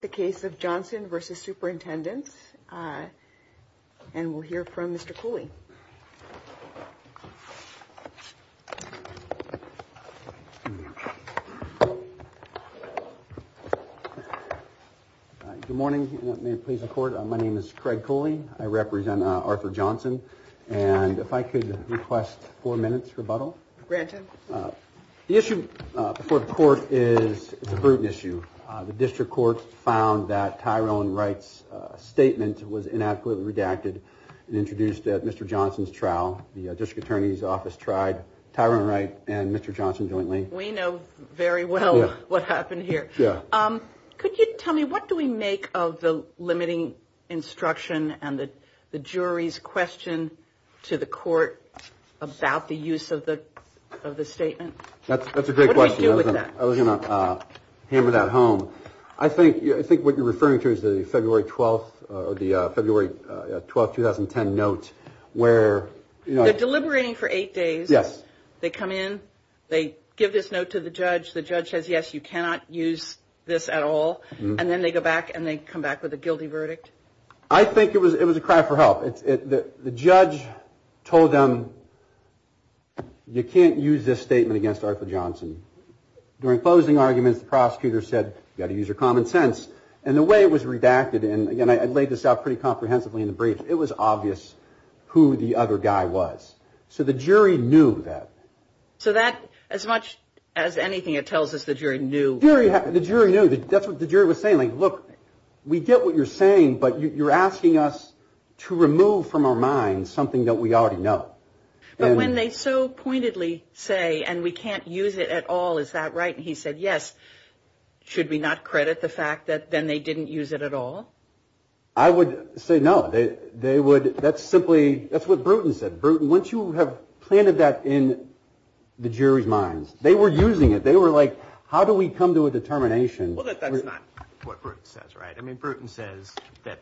The case of Johnson versus superintendents. And we'll hear from Mr. Cooley. Good morning. May it please the court. My name is Craig Cooley. I represent Arthur Johnson. And if I could request four minutes rebuttal. Granted. The issue before the court is it's a brutal issue. The district court found that Tyrone Wright's statement was inadequately redacted and introduced at Mr. Johnson's trial. The district attorney's office tried Tyrone Wright and Mr. Johnson jointly. We know very well what happened here. Yeah. Could you tell me what do we make of the limiting instruction and the jury's question to the court about the use of the statement? That's a great question. I was going to hammer that home. I think what you're referring to is the February 12, 2010 note where. They're deliberating for eight days. Yes. They come in. They give this note to the judge. The judge says, yes, you cannot use this at all. And then they go back and they come back with a guilty verdict. I think it was a cry for help. The judge told them, you can't use this statement against Arthur Johnson. During closing arguments, the prosecutor said, you got to use your common sense. And the way it was redacted. And again, I laid this out pretty comprehensively in the brief. It was obvious who the other guy was. So the jury knew that. So that as much as anything, it tells us the jury knew. The jury knew. That's what the jury was saying. Look, we get what you're saying. But you're asking us to remove from our minds something that we already know. But when they so pointedly say, and we can't use it at all, is that right? And he said, yes. Should we not credit the fact that then they didn't use it at all? I would say no. They would. That's simply. That's what Bruton said. Bruton, once you have planted that in the jury's minds. They were using it. They were like, how do we come to a determination? Well, that's not what Bruton says, right? I mean, Bruton says that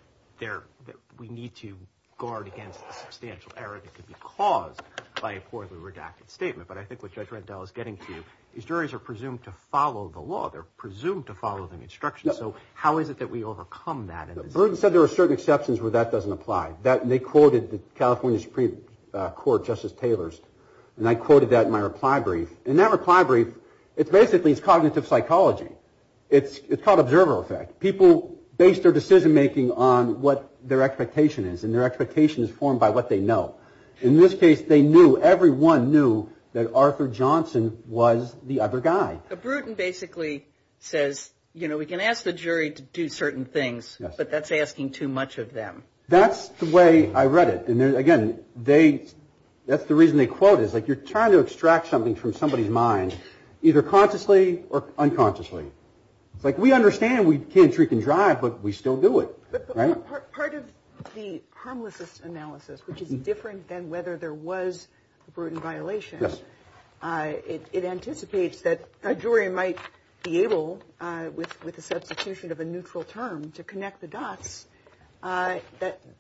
we need to guard against the substantial error that could be caused by a poorly redacted statement. But I think what Judge Reddell is getting to is juries are presumed to follow the law. They're presumed to follow the instructions. So how is it that we overcome that? Bruton said there are certain exceptions where that doesn't apply. They quoted the California Supreme Court, Justice Taylor's. And I quoted that in my reply brief. In that reply brief, it's basically it's cognitive psychology. It's called observer effect. People base their decision making on what their expectation is and their expectation is formed by what they know. In this case, they knew everyone knew that Arthur Johnson was the other guy. But Bruton basically says, you know, we can ask the jury to do certain things, but that's asking too much of them. That's the way I read it. Again, they that's the reason they quote is like you're trying to extract something from somebody's mind, either consciously or unconsciously. It's like we understand we can't trick and drive, but we still do it. Part of the harmless analysis, which is different than whether there was a Bruton violation. It anticipates that a jury might be able with with a substitution of a neutral term to connect the dots. That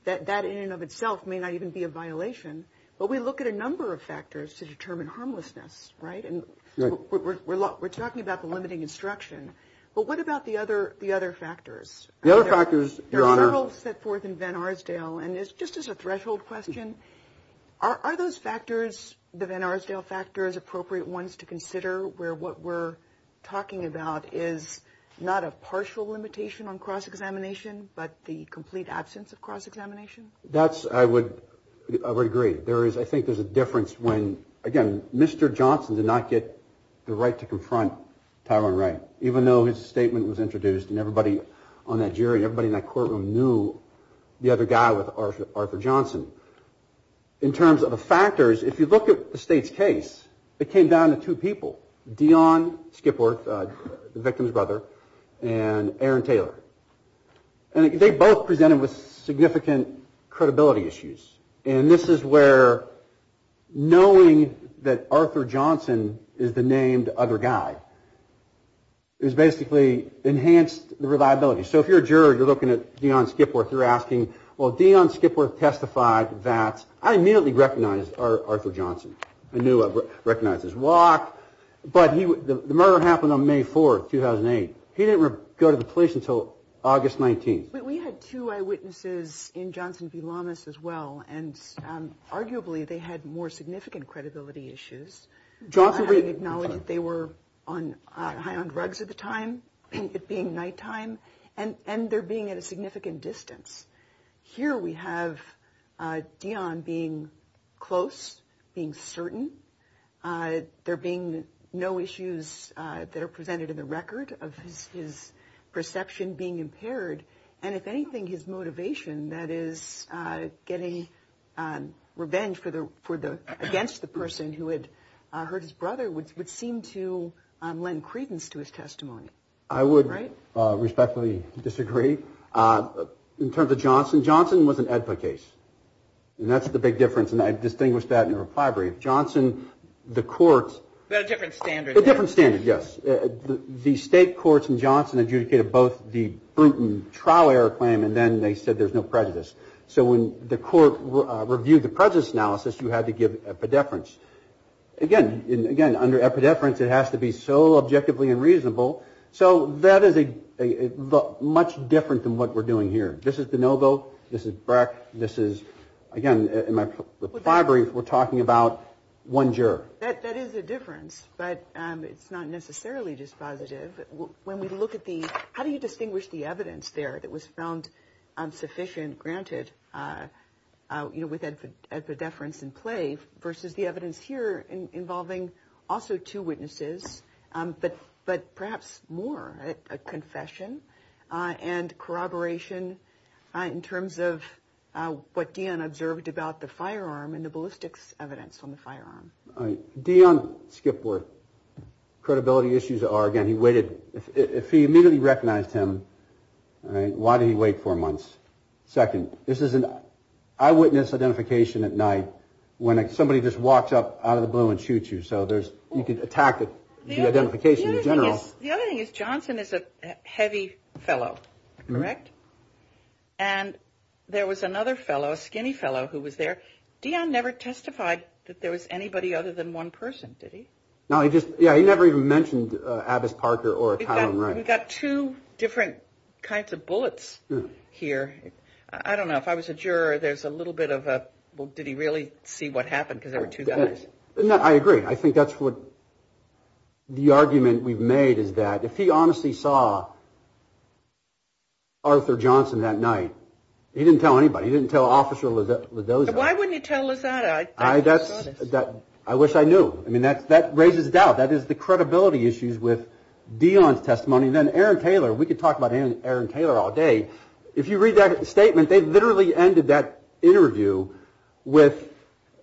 that that in and of itself may not even be a violation. But we look at a number of factors to determine harmlessness, right? And we're talking about the limiting instruction. But what about the other the other factors? The other factors are all set forth in Van Arsdale. And it's just as a threshold question. Are those factors the Van Arsdale factors appropriate ones to consider where what we're talking about is not a partial limitation on cross-examination, but the complete absence of cross-examination? That's I would I would agree. There is I think there's a difference when again, Mr. Johnson did not get the right to confront Tyrone Wray, even though his statement was introduced and everybody on that jury, everybody in that courtroom knew the other guy with Arthur Johnson. In terms of the factors, if you look at the state's case, it came down to two people. Dionne Skipworth, the victim's brother, and Aaron Taylor. And they both presented with significant credibility issues. And this is where knowing that Arthur Johnson is the named other guy is basically enhanced the reliability. So if you're a juror, you're looking at Dionne Skipworth, you're asking, well, Dionne Skipworth testified that I immediately recognized Arthur Johnson. I knew I recognized his walk. But the murder happened on May 4th, 2008. He didn't go to the police until August 19th. But we had two eyewitnesses in Johnson v. Lamas as well, and arguably they had more significant credibility issues. Johnson acknowledged they were on high on drugs at the time, it being nighttime and and they're being at a significant distance. Here we have Dionne being close, being certain. There being no issues that are presented in the record of his perception being impaired. And if anything, his motivation, that is getting revenge for the for the against the person who had hurt his brother, which would seem to lend credence to his testimony. I would respectfully disagree. In terms of Johnson, Johnson was an advocate. And that's the big difference. And I've distinguished that in a reply brief. Johnson, the court. But a different standard. A different standard, yes. The state courts in Johnson adjudicated both the Bruton trial error claim and then they said there's no prejudice. So when the court reviewed the prejudice analysis, you had to give a preference. So that is a much different than what we're doing here. This is DeNovo. This is Breck. This is, again, in my reply brief, we're talking about one juror. That is a difference. But it's not necessarily just positive. When we look at the how do you distinguish the evidence there that was found sufficient, granted, you know, with the deference in play versus the evidence here involving also two witnesses. But perhaps more, a confession and corroboration in terms of what Dion observed about the firearm and the ballistics evidence on the firearm. Dion Skipworth. Credibility issues are, again, he waited. If he immediately recognized him, why did he wait four months? Second, this is an eyewitness identification at night when somebody just walks up out of the blue and shoots you. So there's you could attack the identification in general. The other thing is Johnson is a heavy fellow. Correct. And there was another fellow, a skinny fellow, who was there. Dion never testified that there was anybody other than one person. Did he? No, he just yeah. He never even mentioned Abbess Parker or we got two different kinds of bullets here. I don't know if I was a juror. There's a little bit of a well, did he really see what happened? Because there were two guys. I agree. I think that's what the argument we've made is that if he honestly saw Arthur Johnson that night, he didn't tell anybody. He didn't tell Officer Lozada. Why wouldn't you tell Lozada? I wish I knew. I mean, that raises doubt. That is the credibility issues with Dion's testimony. Then Aaron Taylor, we could talk about Aaron Taylor all day. If you read that statement, they literally ended that interview with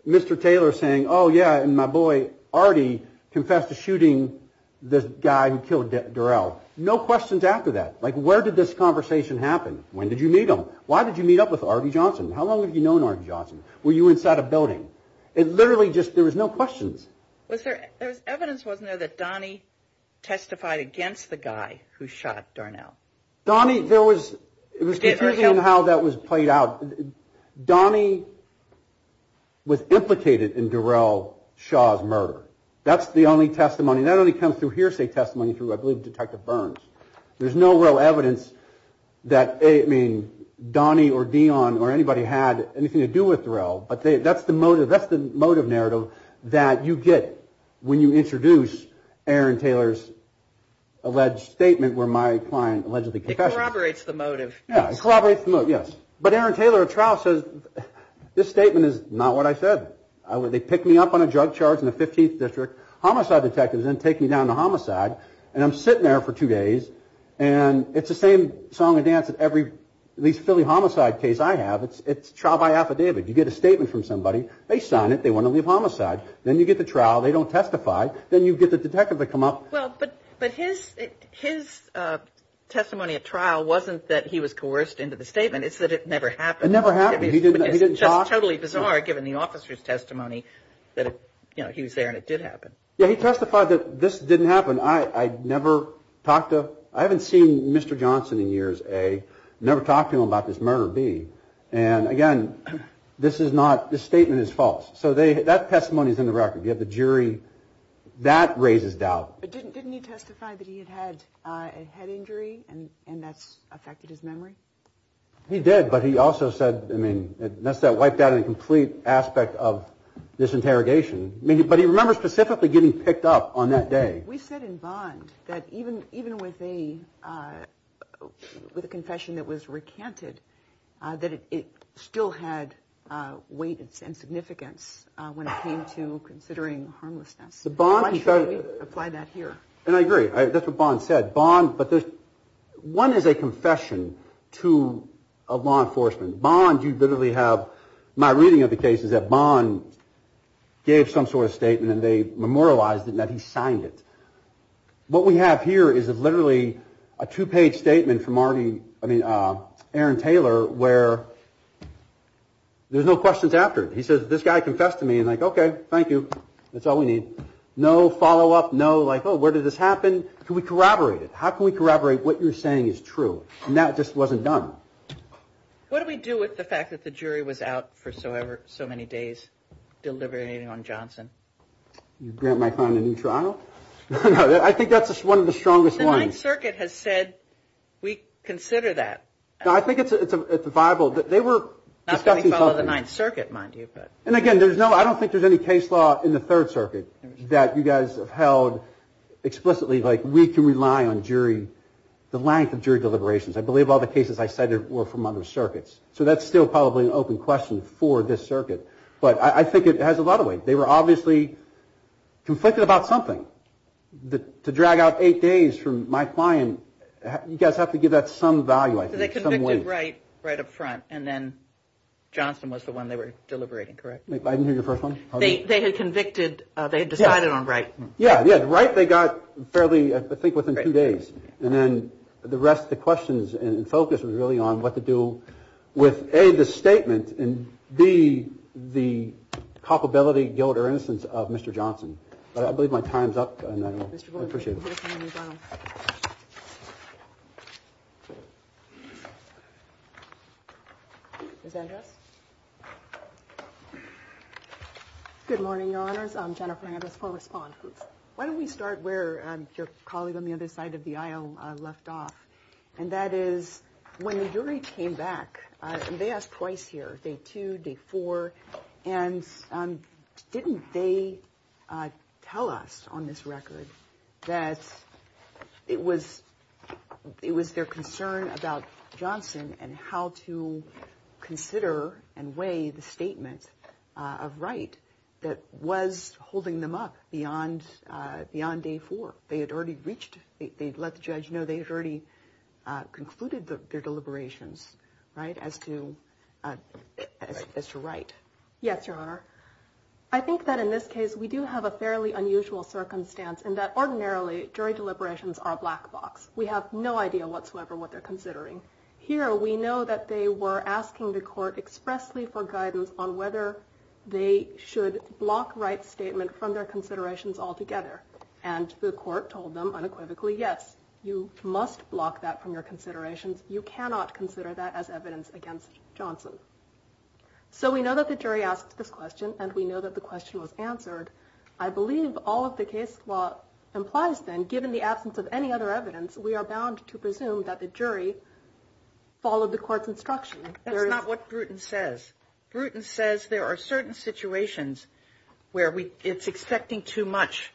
Mr. Taylor saying, oh, yeah. And my boy, Artie, confessed to shooting the guy who killed Darrell. No questions after that. Like, where did this conversation happen? When did you meet him? Why did you meet up with Artie Johnson? How long have you known Artie Johnson? Were you inside a building? It literally just, there was no questions. Was there, there was evidence wasn't there that Donnie testified against the guy who shot Darnell? Donnie, there was, it was confusing how that was played out. Donnie was implicated in Darrell Shaw's murder. That's the only testimony. That only comes through hearsay testimony through, I believe, Detective Burns. There's no real evidence that, I mean, Donnie or Dion or anybody had anything to do with Darrell. But that's the motive, that's the motive narrative that you get when you introduce Aaron Taylor's alleged statement where my client allegedly confessed. It corroborates the motive. Yeah, it corroborates the motive, yes. But Aaron Taylor at trial says, this statement is not what I said. They pick me up on a drug charge in the 15th District. Homicide detectives then take me down to Homicide. And I'm sitting there for two days. And it's the same song and dance that every, at least Philly Homicide case I have. It's trial by affidavit. You get a statement from somebody. They sign it. They want to leave Homicide. Then you get to trial. They don't testify. Then you get the detective to come up. Well, but his testimony at trial wasn't that he was coerced into the statement. It's that it never happened. It never happened. He didn't talk. It's just totally bizarre given the officer's testimony that he was there and it did happen. Yeah, he testified that this didn't happen. I never talked to, I haven't seen Mr. Johnson in years, A. Never talked to him about this murder, B. And again, this is not, this statement is false. So that testimony is in the record. You have the jury. That raises doubt. But didn't he testify that he had had a head injury and that's affected his memory? He did. But he also said, I mean, that's that wiped out in a complete aspect of this interrogation. I mean, but he remembers specifically getting picked up on that day. We said in Bond that even with a confession that was recanted, that it still had weight and significance when it came to considering harmlessness. Why should we apply that here? And I agree. That's what Bond said. Bond, but there's, one is a confession to a law enforcement. Bond, you literally have, my reading of the case is that Bond gave some sort of statement and they memorialized it and that he signed it. What we have here is literally a two-page statement from already, I mean, Aaron Taylor, where there's no questions after it. He says, this guy confessed to me. And like, okay, thank you. That's all we need. No follow-up. No, like, oh, where did this happen? Can we corroborate it? How can we corroborate what you're saying is true? And that just wasn't done. What do we do with the fact that the jury was out for so many days deliberating on Johnson? You grant my client a new trial? I think that's one of the strongest ones. The Ninth Circuit has said we consider that. I think it's a viable, they were discussing something. Not going to follow the Ninth Circuit, mind you, but. And again, there's no, I don't think there's any case law in the Third Circuit. That you guys have held explicitly, like, we can rely on jury, the length of jury deliberations. I believe all the cases I cited were from other circuits. So that's still probably an open question for this circuit. But I think it has a lot of weight. They were obviously conflicted about something. To drag out eight days from my client, you guys have to give that some value, I think, some weight. So they convicted right up front, and then Johnson was the one they were deliberating, correct? I didn't hear your first one. They had convicted, they had decided on right. Yeah, yeah, right. They got fairly, I think, within two days. And then the rest of the questions and focus was really on what to do with A, the statement, and B, the culpability, guilt, or innocence of Mr. Johnson. But I believe my time's up. And I appreciate it. Good morning, Your Honors. I'm Jennifer Andrews, former sponsor. Why don't we start where your colleague on the other side of the aisle left off? And that is, when the jury came back, and they asked twice here, day two, day four, and didn't they tell us on this record that it was their concern about Johnson and how to consider and weigh the statement of right that was holding them up beyond day four? They had already reached, they'd let the judge know they had already concluded their deliberations, right, as to right. Yes, Your Honor. I think that in this case, we do have a fairly unusual circumstance in that ordinarily, jury deliberations are a black box. We have no idea whatsoever what they're considering. Here, we know that they were asking the court expressly for guidance on whether they should block right statement from their considerations altogether. And the court told them unequivocally, yes, you must block that from your considerations. You cannot consider that as evidence against Johnson. So we know that the jury asked this question, and we know that the question was answered. I believe all of the case law implies then, given the absence of any other evidence, we are bound to presume that the jury followed the court's instruction. That's not what Bruton says. Bruton says there are certain situations where it's expecting too much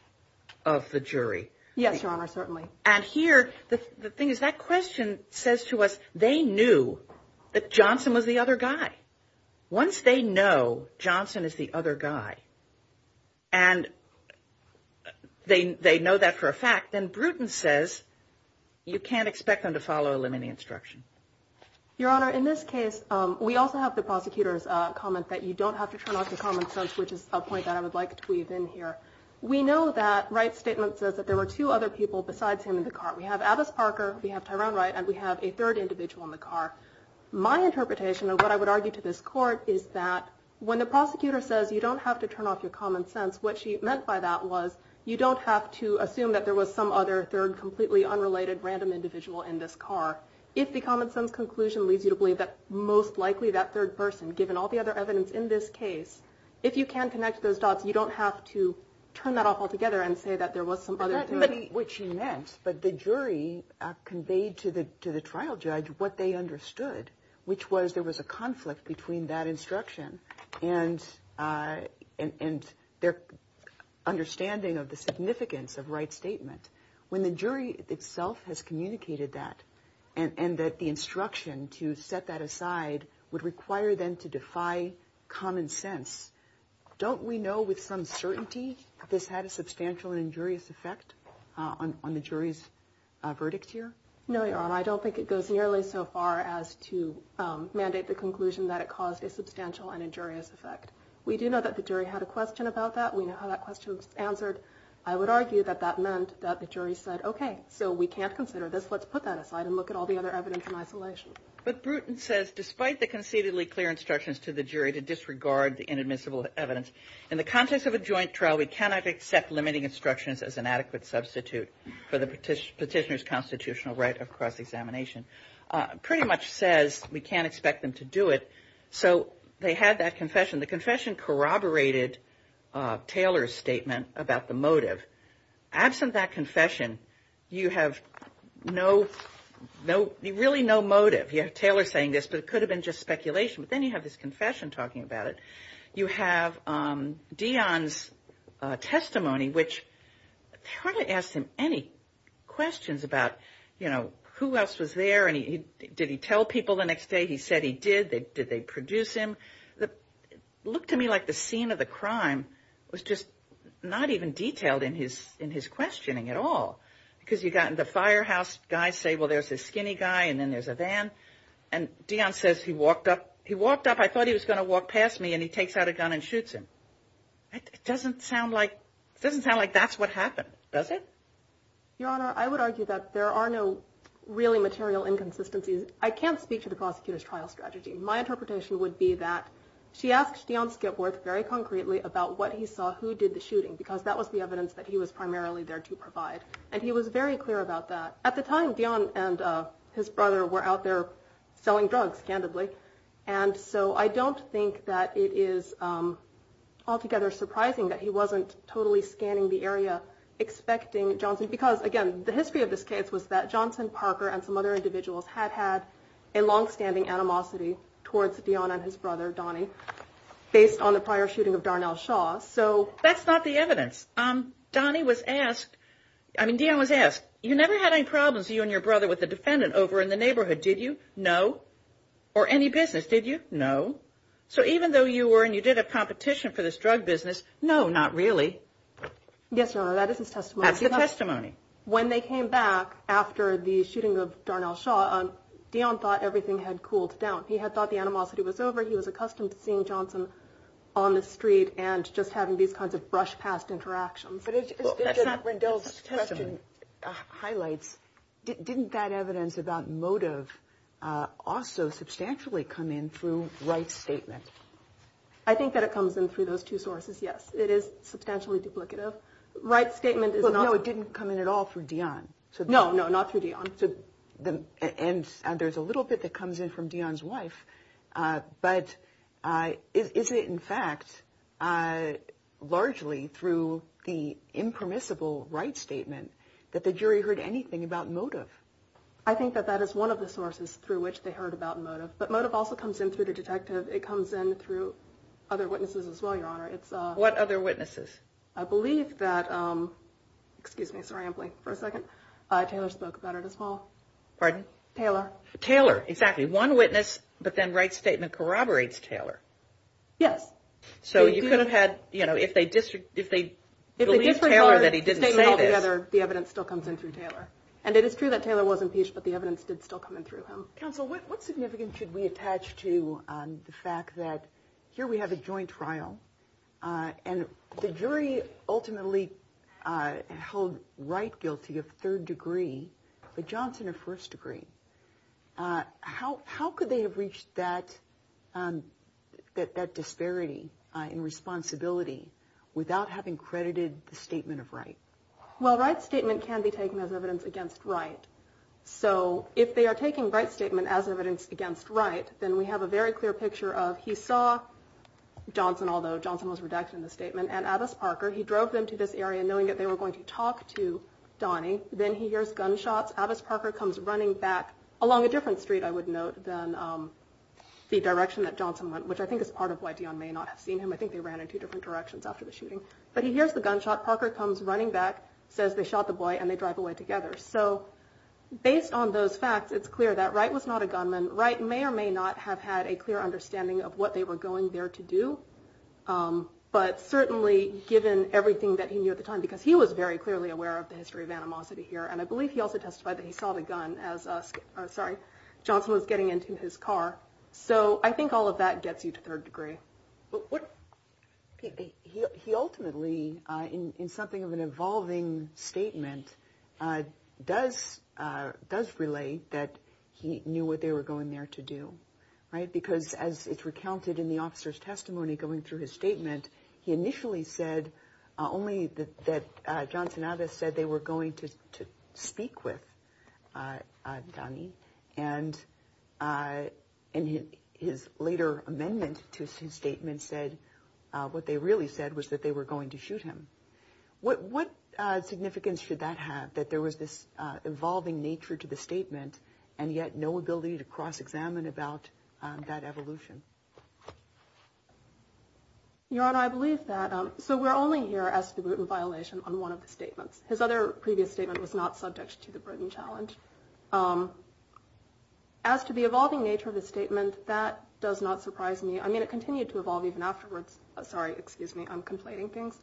of the jury. Yes, Your Honor, certainly. And here, the thing is, that question says to us, they knew that Johnson was the other guy. Once they know Johnson is the other guy, and they know that for a fact, then Bruton says you can't expect them to follow a limiting instruction. Your Honor, in this case, we also have the prosecutor's comment that you don't have to turn off your common sense, which is a point that I would like to weave in here. We know that Wright's statement says that there were two other people besides him in the car. We have Abbess Parker, we have Tyrone Wright, and we have a third individual in the car. My interpretation of what I would argue to this court is that when the prosecutor says you don't have to turn off your common sense, what she meant by that was you don't have to assume that there was some other third, completely unrelated, random individual in this car. If the common sense conclusion leads you to believe that most likely that third person, given all the other evidence in this case, if you can connect those dots, you don't have to turn that off altogether and say that there was some other third. Which she meant, but the jury conveyed to the trial judge what they understood, which was there was a conflict between that instruction and their understanding of the significance of Wright's statement. When the jury itself has communicated that and that the instruction to set that aside would require them to defy common sense, don't we know with some certainty this had a substantial and injurious effect on the jury's verdict here? No, Your Honor, I don't think it goes nearly so far as to mandate the conclusion that it caused a substantial and injurious effect. We do know that the jury had a question about that. We know how that question was answered. I would argue that that meant that the jury said, okay, so we can't consider this, let's put that aside and look at all the other evidence in isolation. But Bruton says, despite the concededly clear instructions to the jury to disregard the inadmissible evidence, in the context of a joint trial, we cannot accept limiting instructions as an adequate substitute for the petitioner's constitutional right of cross-examination. Pretty much says we can't expect them to do it. So they had that confession. The confession corroborated Taylor's statement about the motive. Absent that confession, you have really no motive. You have Taylor saying this, but it could have been just speculation. But then you have this confession talking about it. You have Dionne's testimony, which hardly asked him any questions about, you know, who else was there. And did he tell people the next day he said he did? Did they produce him? It looked to me like the scene of the crime was just not even detailed in his questioning at all. Because you've got the firehouse guys say, well, there's this skinny guy and then there's a van. And Dionne says, he walked up, I thought he was going to walk past me and he takes out a gun and shoots him. It doesn't sound like that's what happened, does it? Your Honor, I would argue that there are no really material inconsistencies. I can't speak to the prosecutor's trial strategy. My interpretation would be that she asked Dionne Skipworth very concretely about what he saw, who did the shooting, because that was the evidence that he was primarily there to provide. And he was very clear about that. At the time, Dionne and his brother were out there selling drugs, candidly. And so I don't think that it is altogether surprising that he wasn't totally scanning the area expecting Johnson. Because, again, the history of this case was that Johnson, Parker and some other individuals had had a longstanding animosity towards Dionne and his brother, Donnie, based on the prior shooting of Darnell Shaw. So that's not the evidence. Donnie was asked, I mean, Dionne was asked, you never had any problems, you and your brother, with the defendant over in the neighborhood, did you? No. Or any business, did you? No. So even though you were and you did a competition for this drug business, no, not really. Yes, Your Honor, that is his testimony. That's the testimony. When they came back after the shooting of Darnell Shaw, Dionne thought everything had cooled down. He had thought the animosity was over. He was accustomed to seeing Johnson on the street and just having these kinds of brush past interactions. But it's not Rendell's question highlights. Didn't that evidence about motive also substantially come in through Wright's statement? I think that it comes in through those two sources. Yes, it is substantially duplicative. Wright's statement is not. Well, no, it didn't come in at all for Dionne. No, no, not through Dionne. And there's a little bit that comes in from Dionne's wife. But is it, in fact, largely through the impermissible Wright's statement that the jury heard anything about motive? I think that that is one of the sources through which they heard about motive. But motive also comes in through the detective. It comes in through other witnesses as well, Your Honor. It's a... What other witnesses? I believe that, excuse me, sorry, I'm blanking for a second. Taylor spoke about it as well. Pardon? Taylor. Taylor, exactly. One witness, but then Wright's statement corroborates Taylor. Yes. So you could have had, you know, if they believe Taylor that he didn't say this... The evidence still comes in through Taylor. And it is true that Taylor was impeached, but the evidence did still come in through him. Counsel, what significance should we attach to the fact that here we have a joint trial and the jury ultimately held Wright guilty of third degree, but Johnson of first degree. How could they have reached that disparity in responsibility without having credited the statement of Wright? Well, Wright's statement can be taken as evidence against Wright. So if they are taking Wright's statement as evidence against Wright, then we have a very clear picture of he saw Johnson, although Johnson was redacted in the statement, and Abbess Parker. He drove them to this area knowing that they were going to talk to Donnie. Then he hears gunshots. Abbess Parker comes running back along a different street, I would note, than the direction that Johnson went, which I think is part of why Dion may not have seen him. I think they ran in two different directions after the shooting. But he hears the gunshot. Parker comes running back, says they shot the boy, and they drive away together. So based on those facts, it's clear that Wright was not a gunman. Wright may or may not have had a clear understanding of what they were going there to do. But certainly given everything that he knew at the time, because he was very clearly aware of the history of animosity here. And I believe he also testified that he saw the gun as, sorry, Johnson was getting into his car. So I think all of that gets you to third degree. But what he ultimately in something of an evolving statement does relate that he knew what they were going there to do. Right. Because as it's recounted in the officer's testimony, going through his statement, he initially said only that Johnson said they were going to speak with Donnie. And in his later amendment to his statement, said what they really said was that they were going to shoot him. What significance should that have? That there was this evolving nature to the statement and yet no ability to cross-examine about that evolution? Your Honor, I believe that. So we're only here as to the Bruton violation on one of the statements. His other previous statement was not subject to the Bruton challenge. As to the evolving nature of the statement, that does not surprise me. I mean, it continued to evolve even afterwards. Sorry, excuse me. I'm conflating things.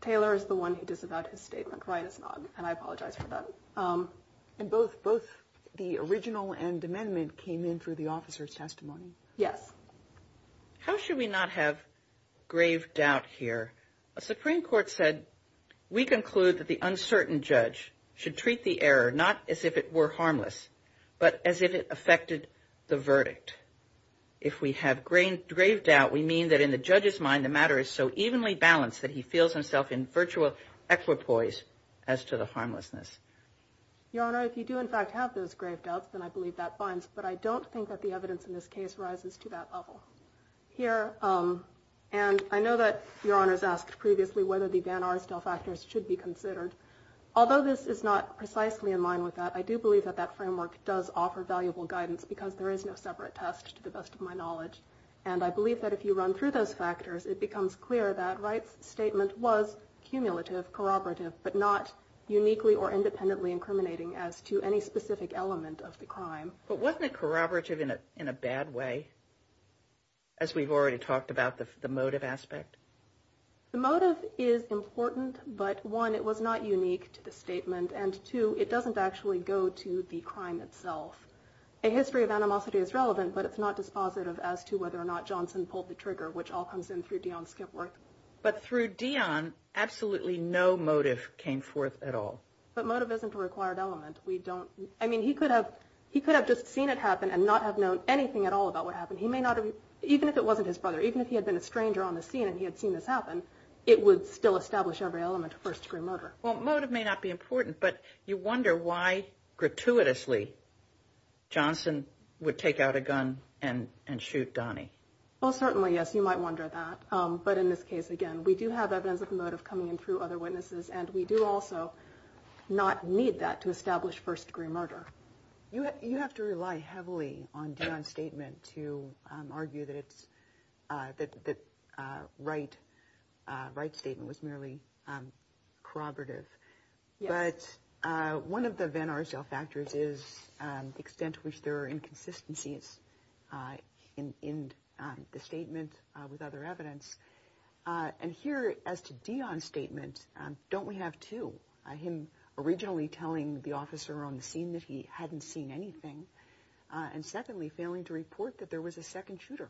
Taylor is the one who disavowed his statement. Wright is not. And I apologize for that. And both the original and amendment came in through the officer's testimony. Yes. How should we not have grave doubt here? A Supreme Court said, we conclude that the uncertain judge should treat the error not as if it were harmless, but as if it affected the verdict. If we have grave doubt, we mean that in the judge's mind, the matter is so evenly balanced that he feels himself in virtual equipoise as to the harmlessness. Your Honor, if you do in fact have those grave doubts, then I believe that binds. But I don't think that the evidence in this case rises to that level. Here, and I know that Your Honor's asked previously whether the Van Aerstel factors should be considered. Although this is not precisely in line with that, I do believe that that framework does offer valuable guidance because there is no separate test to the best of my knowledge. And I believe that if you run through those factors, it becomes clear that Wright's statement was cumulative, corroborative, but not uniquely or independently incriminating as to any specific element of the crime. But wasn't it corroborative in a bad way? As we've already talked about the motive aspect. The motive is important, but one, it was not unique to the statement, and two, it doesn't actually go to the crime itself. A history of animosity is relevant, but it's not dispositive as to whether or not Johnson pulled the trigger, which all comes in through Dion Skipworth. But through Dion, absolutely no motive came forth at all. But motive isn't a required element. We don't, I mean, he could have, he could have just seen it happen and not have known anything at all about what happened. He may not have, even if it wasn't his brother, even if he had been a stranger on the scene and he had seen this happen, it would still establish every element of first-degree murder. Well, motive may not be important, but you wonder why, gratuitously, Johnson would take out a gun and shoot Donnie. Well, certainly, yes, you might wonder that. But in this case, again, we do have evidence of motive coming in through other witnesses, and we do also not need that to establish first-degree murder. You have to rely heavily on Dion's statement to argue that Wright's statement was merely corroborative. But one of the Van Arsdale factors is the extent to which there are inconsistencies in the statement with other evidence. And here, as to Dion's statement, don't we have two? Him originally telling the officer on the scene that he hadn't seen anything, and secondly, failing to report that there was a second shooter.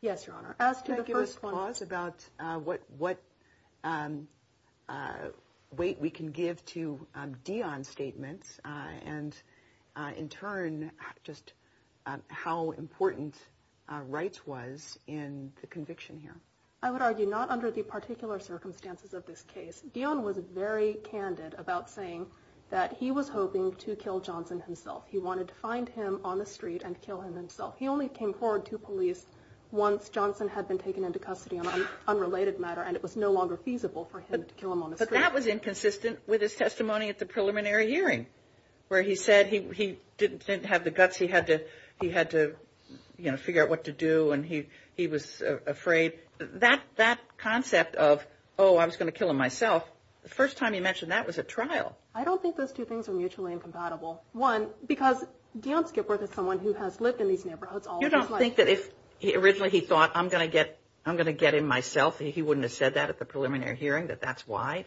Yes, Your Honor. As to the first one... Can I give a pause about what weight we can give to Dion's statements and, in turn, just how important Wright's was in the conviction here? I would argue not under the particular circumstances of this case. Dion was very candid about saying that he was hoping to kill Johnson himself. He wanted to find him on the street and kill him himself. He only came forward to police once Johnson had been taken into custody on an unrelated matter, and it was no longer feasible for him to kill him on the street. But that was inconsistent with his testimony at the preliminary hearing, where he said he didn't have the guts, he had to, you know, figure out what to do, and he was afraid. That concept of, oh, I was going to kill him myself, the first time he mentioned that was at trial. I don't think those two things are mutually incompatible. One, because Dion Skipworth is someone who has lived in these neighborhoods all his life. You don't think that if originally he thought, I'm going to get him myself, he wouldn't have said that at the preliminary hearing, that that's why,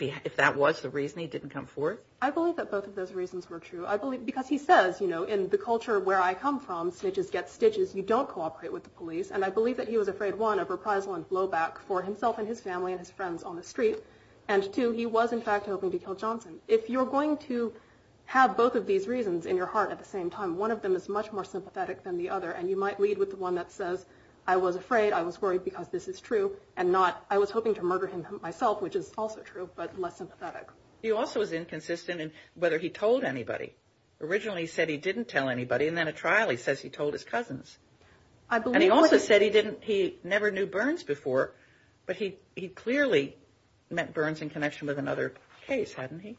if that was the reason he didn't come forward? I believe that both of those reasons were true. I believe, because he says, you know, in the culture where I come from, snitches get stitches, you don't cooperate with the police. And I believe that he was afraid, one, of reprisal and blowback for himself and his family and his friends on the street. And two, he was, in fact, hoping to kill Johnson. If you're going to have both of these reasons in your heart at the same time, one of them is much more sympathetic than the other. And you might lead with the one that says, I was afraid, I was worried because this is true, and not, I was hoping to murder him myself, which is also true, but less sympathetic. He also was inconsistent in whether he told anybody. Originally he said he didn't tell anybody, and then at trial he says he told his cousins. And he also said he didn't, he never knew Burns before, but he clearly met Burns in connection with another case, hadn't he?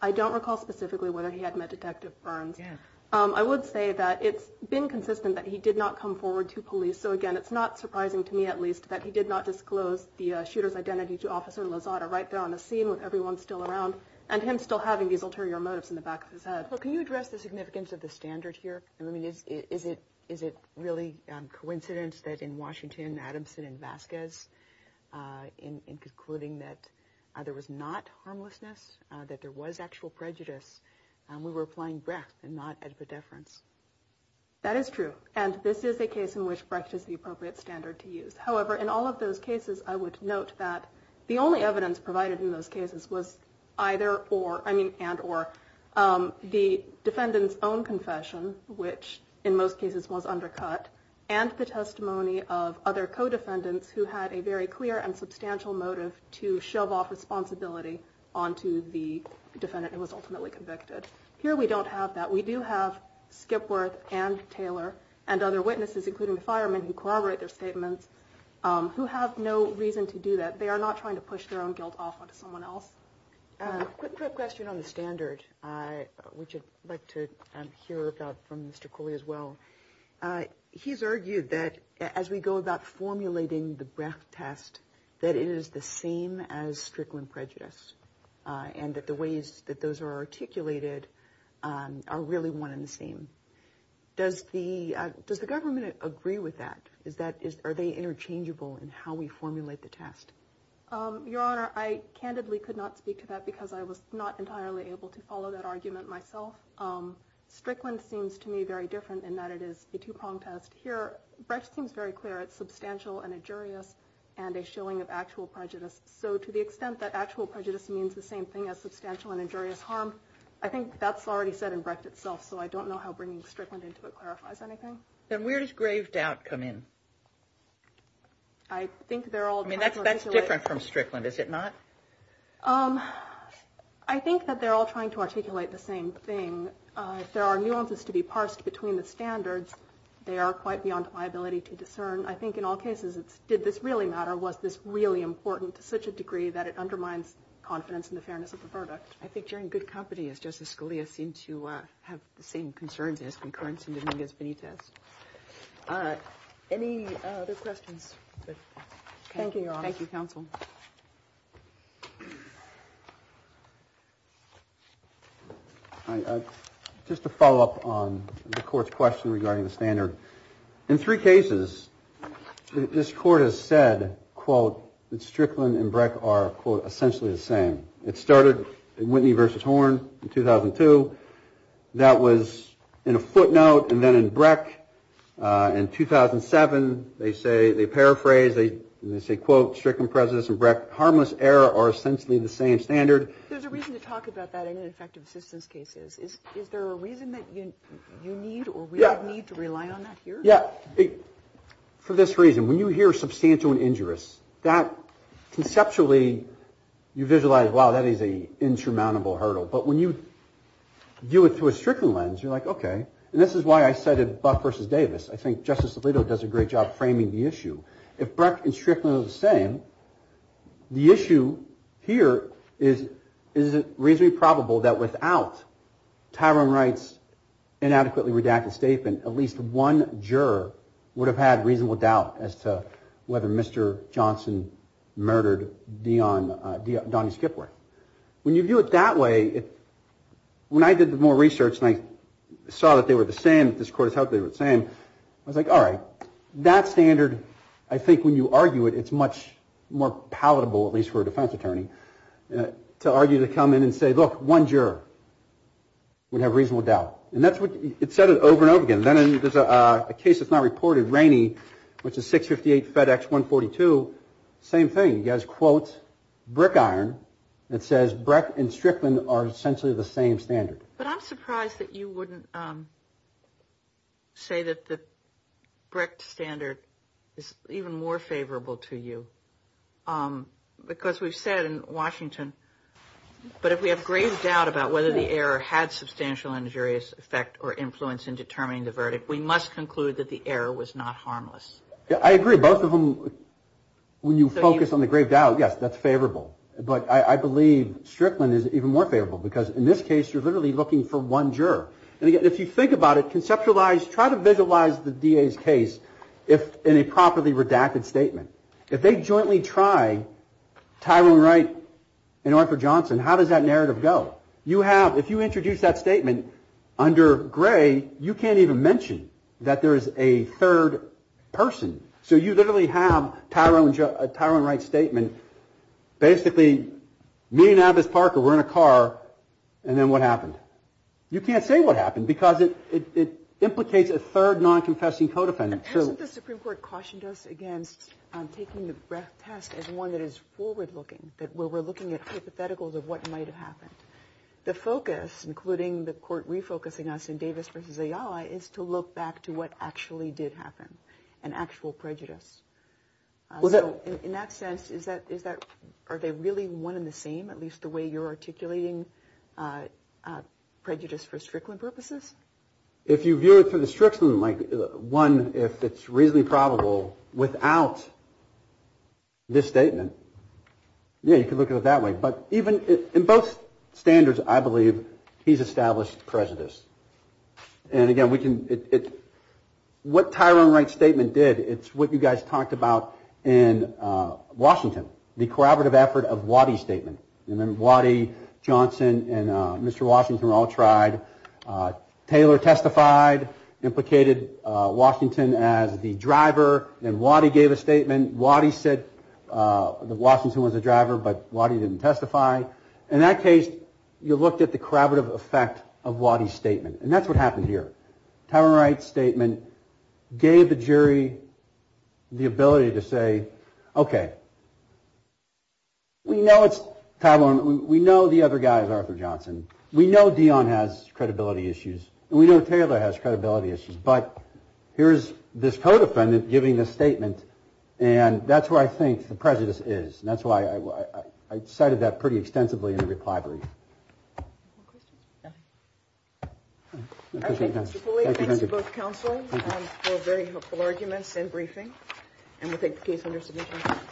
I don't recall specifically whether he had met Detective Burns. Yeah. I would say that it's been consistent that he did not come forward to police. So again, it's not surprising to me, at least, that he did not disclose the shooter's identity to Officer Lozada right there on the scene with everyone still around, and him still having these ulterior motives in the back of his head. Well, can you address the significance of the standard here? I mean, is it really coincidence that in Washington, Adamson and Vasquez, in concluding that there was not harmlessness, or that there was actual prejudice, we were playing Brecht and not at predeference? That is true. And this is a case in which Brecht is the appropriate standard to use. However, in all of those cases, I would note that the only evidence provided in those cases was either or, I mean, and or, the defendant's own confession, which in most cases was undercut, and the testimony of other co-defendants who had a very clear and substantial motive to shove off responsibility onto the defendant who was ultimately convicted. Here, we don't have that. We do have Skipworth and Taylor and other witnesses, including the firemen, who corroborate their statements, who have no reason to do that. They are not trying to push their own guilt off onto someone else. Quick question on the standard, which I'd like to hear about from Mr. Cooley as well. He's argued that as we go about formulating the Brecht test, that it is the same as Strickland prejudice, and that the ways that those are articulated are really one and the same. Does the government agree with that? Are they interchangeable in how we formulate the test? Your Honor, I candidly could not speak to that because I was not entirely able to follow that argument myself. Strickland seems to me very different in that it is a two-pronged test. Here, Brecht seems very clear. It's substantial and injurious, and a showing of actual prejudice. So to the extent that actual prejudice means the same thing as substantial and injurious harm, I think that's already said in Brecht itself, so I don't know how bringing Strickland into it clarifies anything. Then where does grave doubt come in? I think they're all trying to articulate... I mean, that's different from Strickland, is it not? I think that they're all trying to articulate the same thing. If there are nuances to be parsed between the standards, they are quite beyond my ability to discern. I think in all cases, did this really matter? Was this really important to such a degree that it undermines confidence in the fairness of the product? I think you're in good company, as Justice Scalia seemed to have the same concerns as concurrence in Dominguez-Benitez. Any other questions? Thank you, Your Honor. Thank you, counsel. Just to follow up on the Court's question regarding the standard, in three cases, this Court has said, quote, that Strickland and Brecht are, quote, essentially the same. It started in Whitney v. Horn in 2002. That was in a footnote, and then in Brecht in 2007, they say, they paraphrase, they say, quote, Strickland, Presidents, and Brecht, harmless error, are essentially the same standard. There's a reason to talk about that in ineffective assistance cases. Is there a reason that you need, or we need to rely on that here? Yeah. For this reason, when you hear substantial and injurious, that conceptually, you visualize, wow, that is a insurmountable hurdle. But when you view it through a Strickland lens, you're like, okay, and this is why I cited Buck v. Davis. I think Justice Alito does a great job framing the issue. If Brecht and Strickland are the same, the issue here is, is it reasonably probable that without Tyrone Wright's inadequately redacted statement, at least one juror would have had reasonable doubt as to whether Mr. Johnson murdered Donnie Skipworth. When you view it that way, when I did the more research and I saw that they were the same, that this court has held they were the same, I was like, all right, that standard, I think when you argue it, it's much more palatable, at least for a defense attorney, to argue, to come in and say, look, one juror would have reasonable doubt. And that's what, it's said it over and over again. Then there's a case that's not reported, Rainey, which is 658 FedEx 142, same thing. He has quotes, brick iron, that says Brecht and Strickland are essentially the same standard. But I'm surprised that you wouldn't say that the Brecht standard is even more favorable to you. Because we've said in Washington, but if we have grave doubt about whether the error had substantial injurious effect or influence in determining the verdict, we must conclude that the error was not harmless. Yeah, I agree. Both of them, when you focus on the grave doubt, yes, that's favorable. But I believe Strickland is even more favorable because in this case, you're literally looking for one juror. And again, if you think about it, conceptualize, try to visualize the DA's case in a properly redacted statement. If they jointly try Tyrone Wright and Arthur Johnson, how does that narrative go? You have, if you introduce that statement under gray, you can't even mention that there is a third person. So you literally have Tyrone Wright's statement, basically, me and Alvis Parker were in a car and then what happened? You can't say what happened because it implicates a third non-confessing co-defendant. Hasn't the Supreme Court cautioned us against taking the breath test as one that is forward-looking, that we're looking at hypotheticals of what might have happened? The focus, including the court refocusing us in Davis versus Ayala, is to look back to what actually did happen and actual prejudice. So in that sense, is that, are they really one and the same, at least the way you're articulating prejudice for Strickland purposes? If you view it for the Strickland, one, if it's reasonably probable without this statement, yeah, you can look at it that way. But even in both standards, I believe he's established prejudice. And again, what Tyrone Wright's statement did, it's what you guys talked about in Washington, the corroborative effort of Waddy's statement. And then Waddy, Johnson, and Mr. Washington all tried. Taylor testified, implicated Washington as the driver, and Waddy gave a statement. Waddy said that Washington was the driver, but Waddy didn't testify. In that case, you looked at the corroborative effect of Waddy's statement. And that's what happened here. Tyrone Wright's statement gave the jury the ability to say, okay, we know it's Tyrone. We know the other guy is Arthur Johnson. We know Dion has credibility issues. And we know Taylor has credibility issues. But here's this co-defendant giving this statement. And that's where I think the prejudice is. And that's why I cited that pretty extensively in the reply brief. Thank you, Mr. Foley. Thanks to both counsels for very helpful arguments and briefing. And we'll take the case under submission.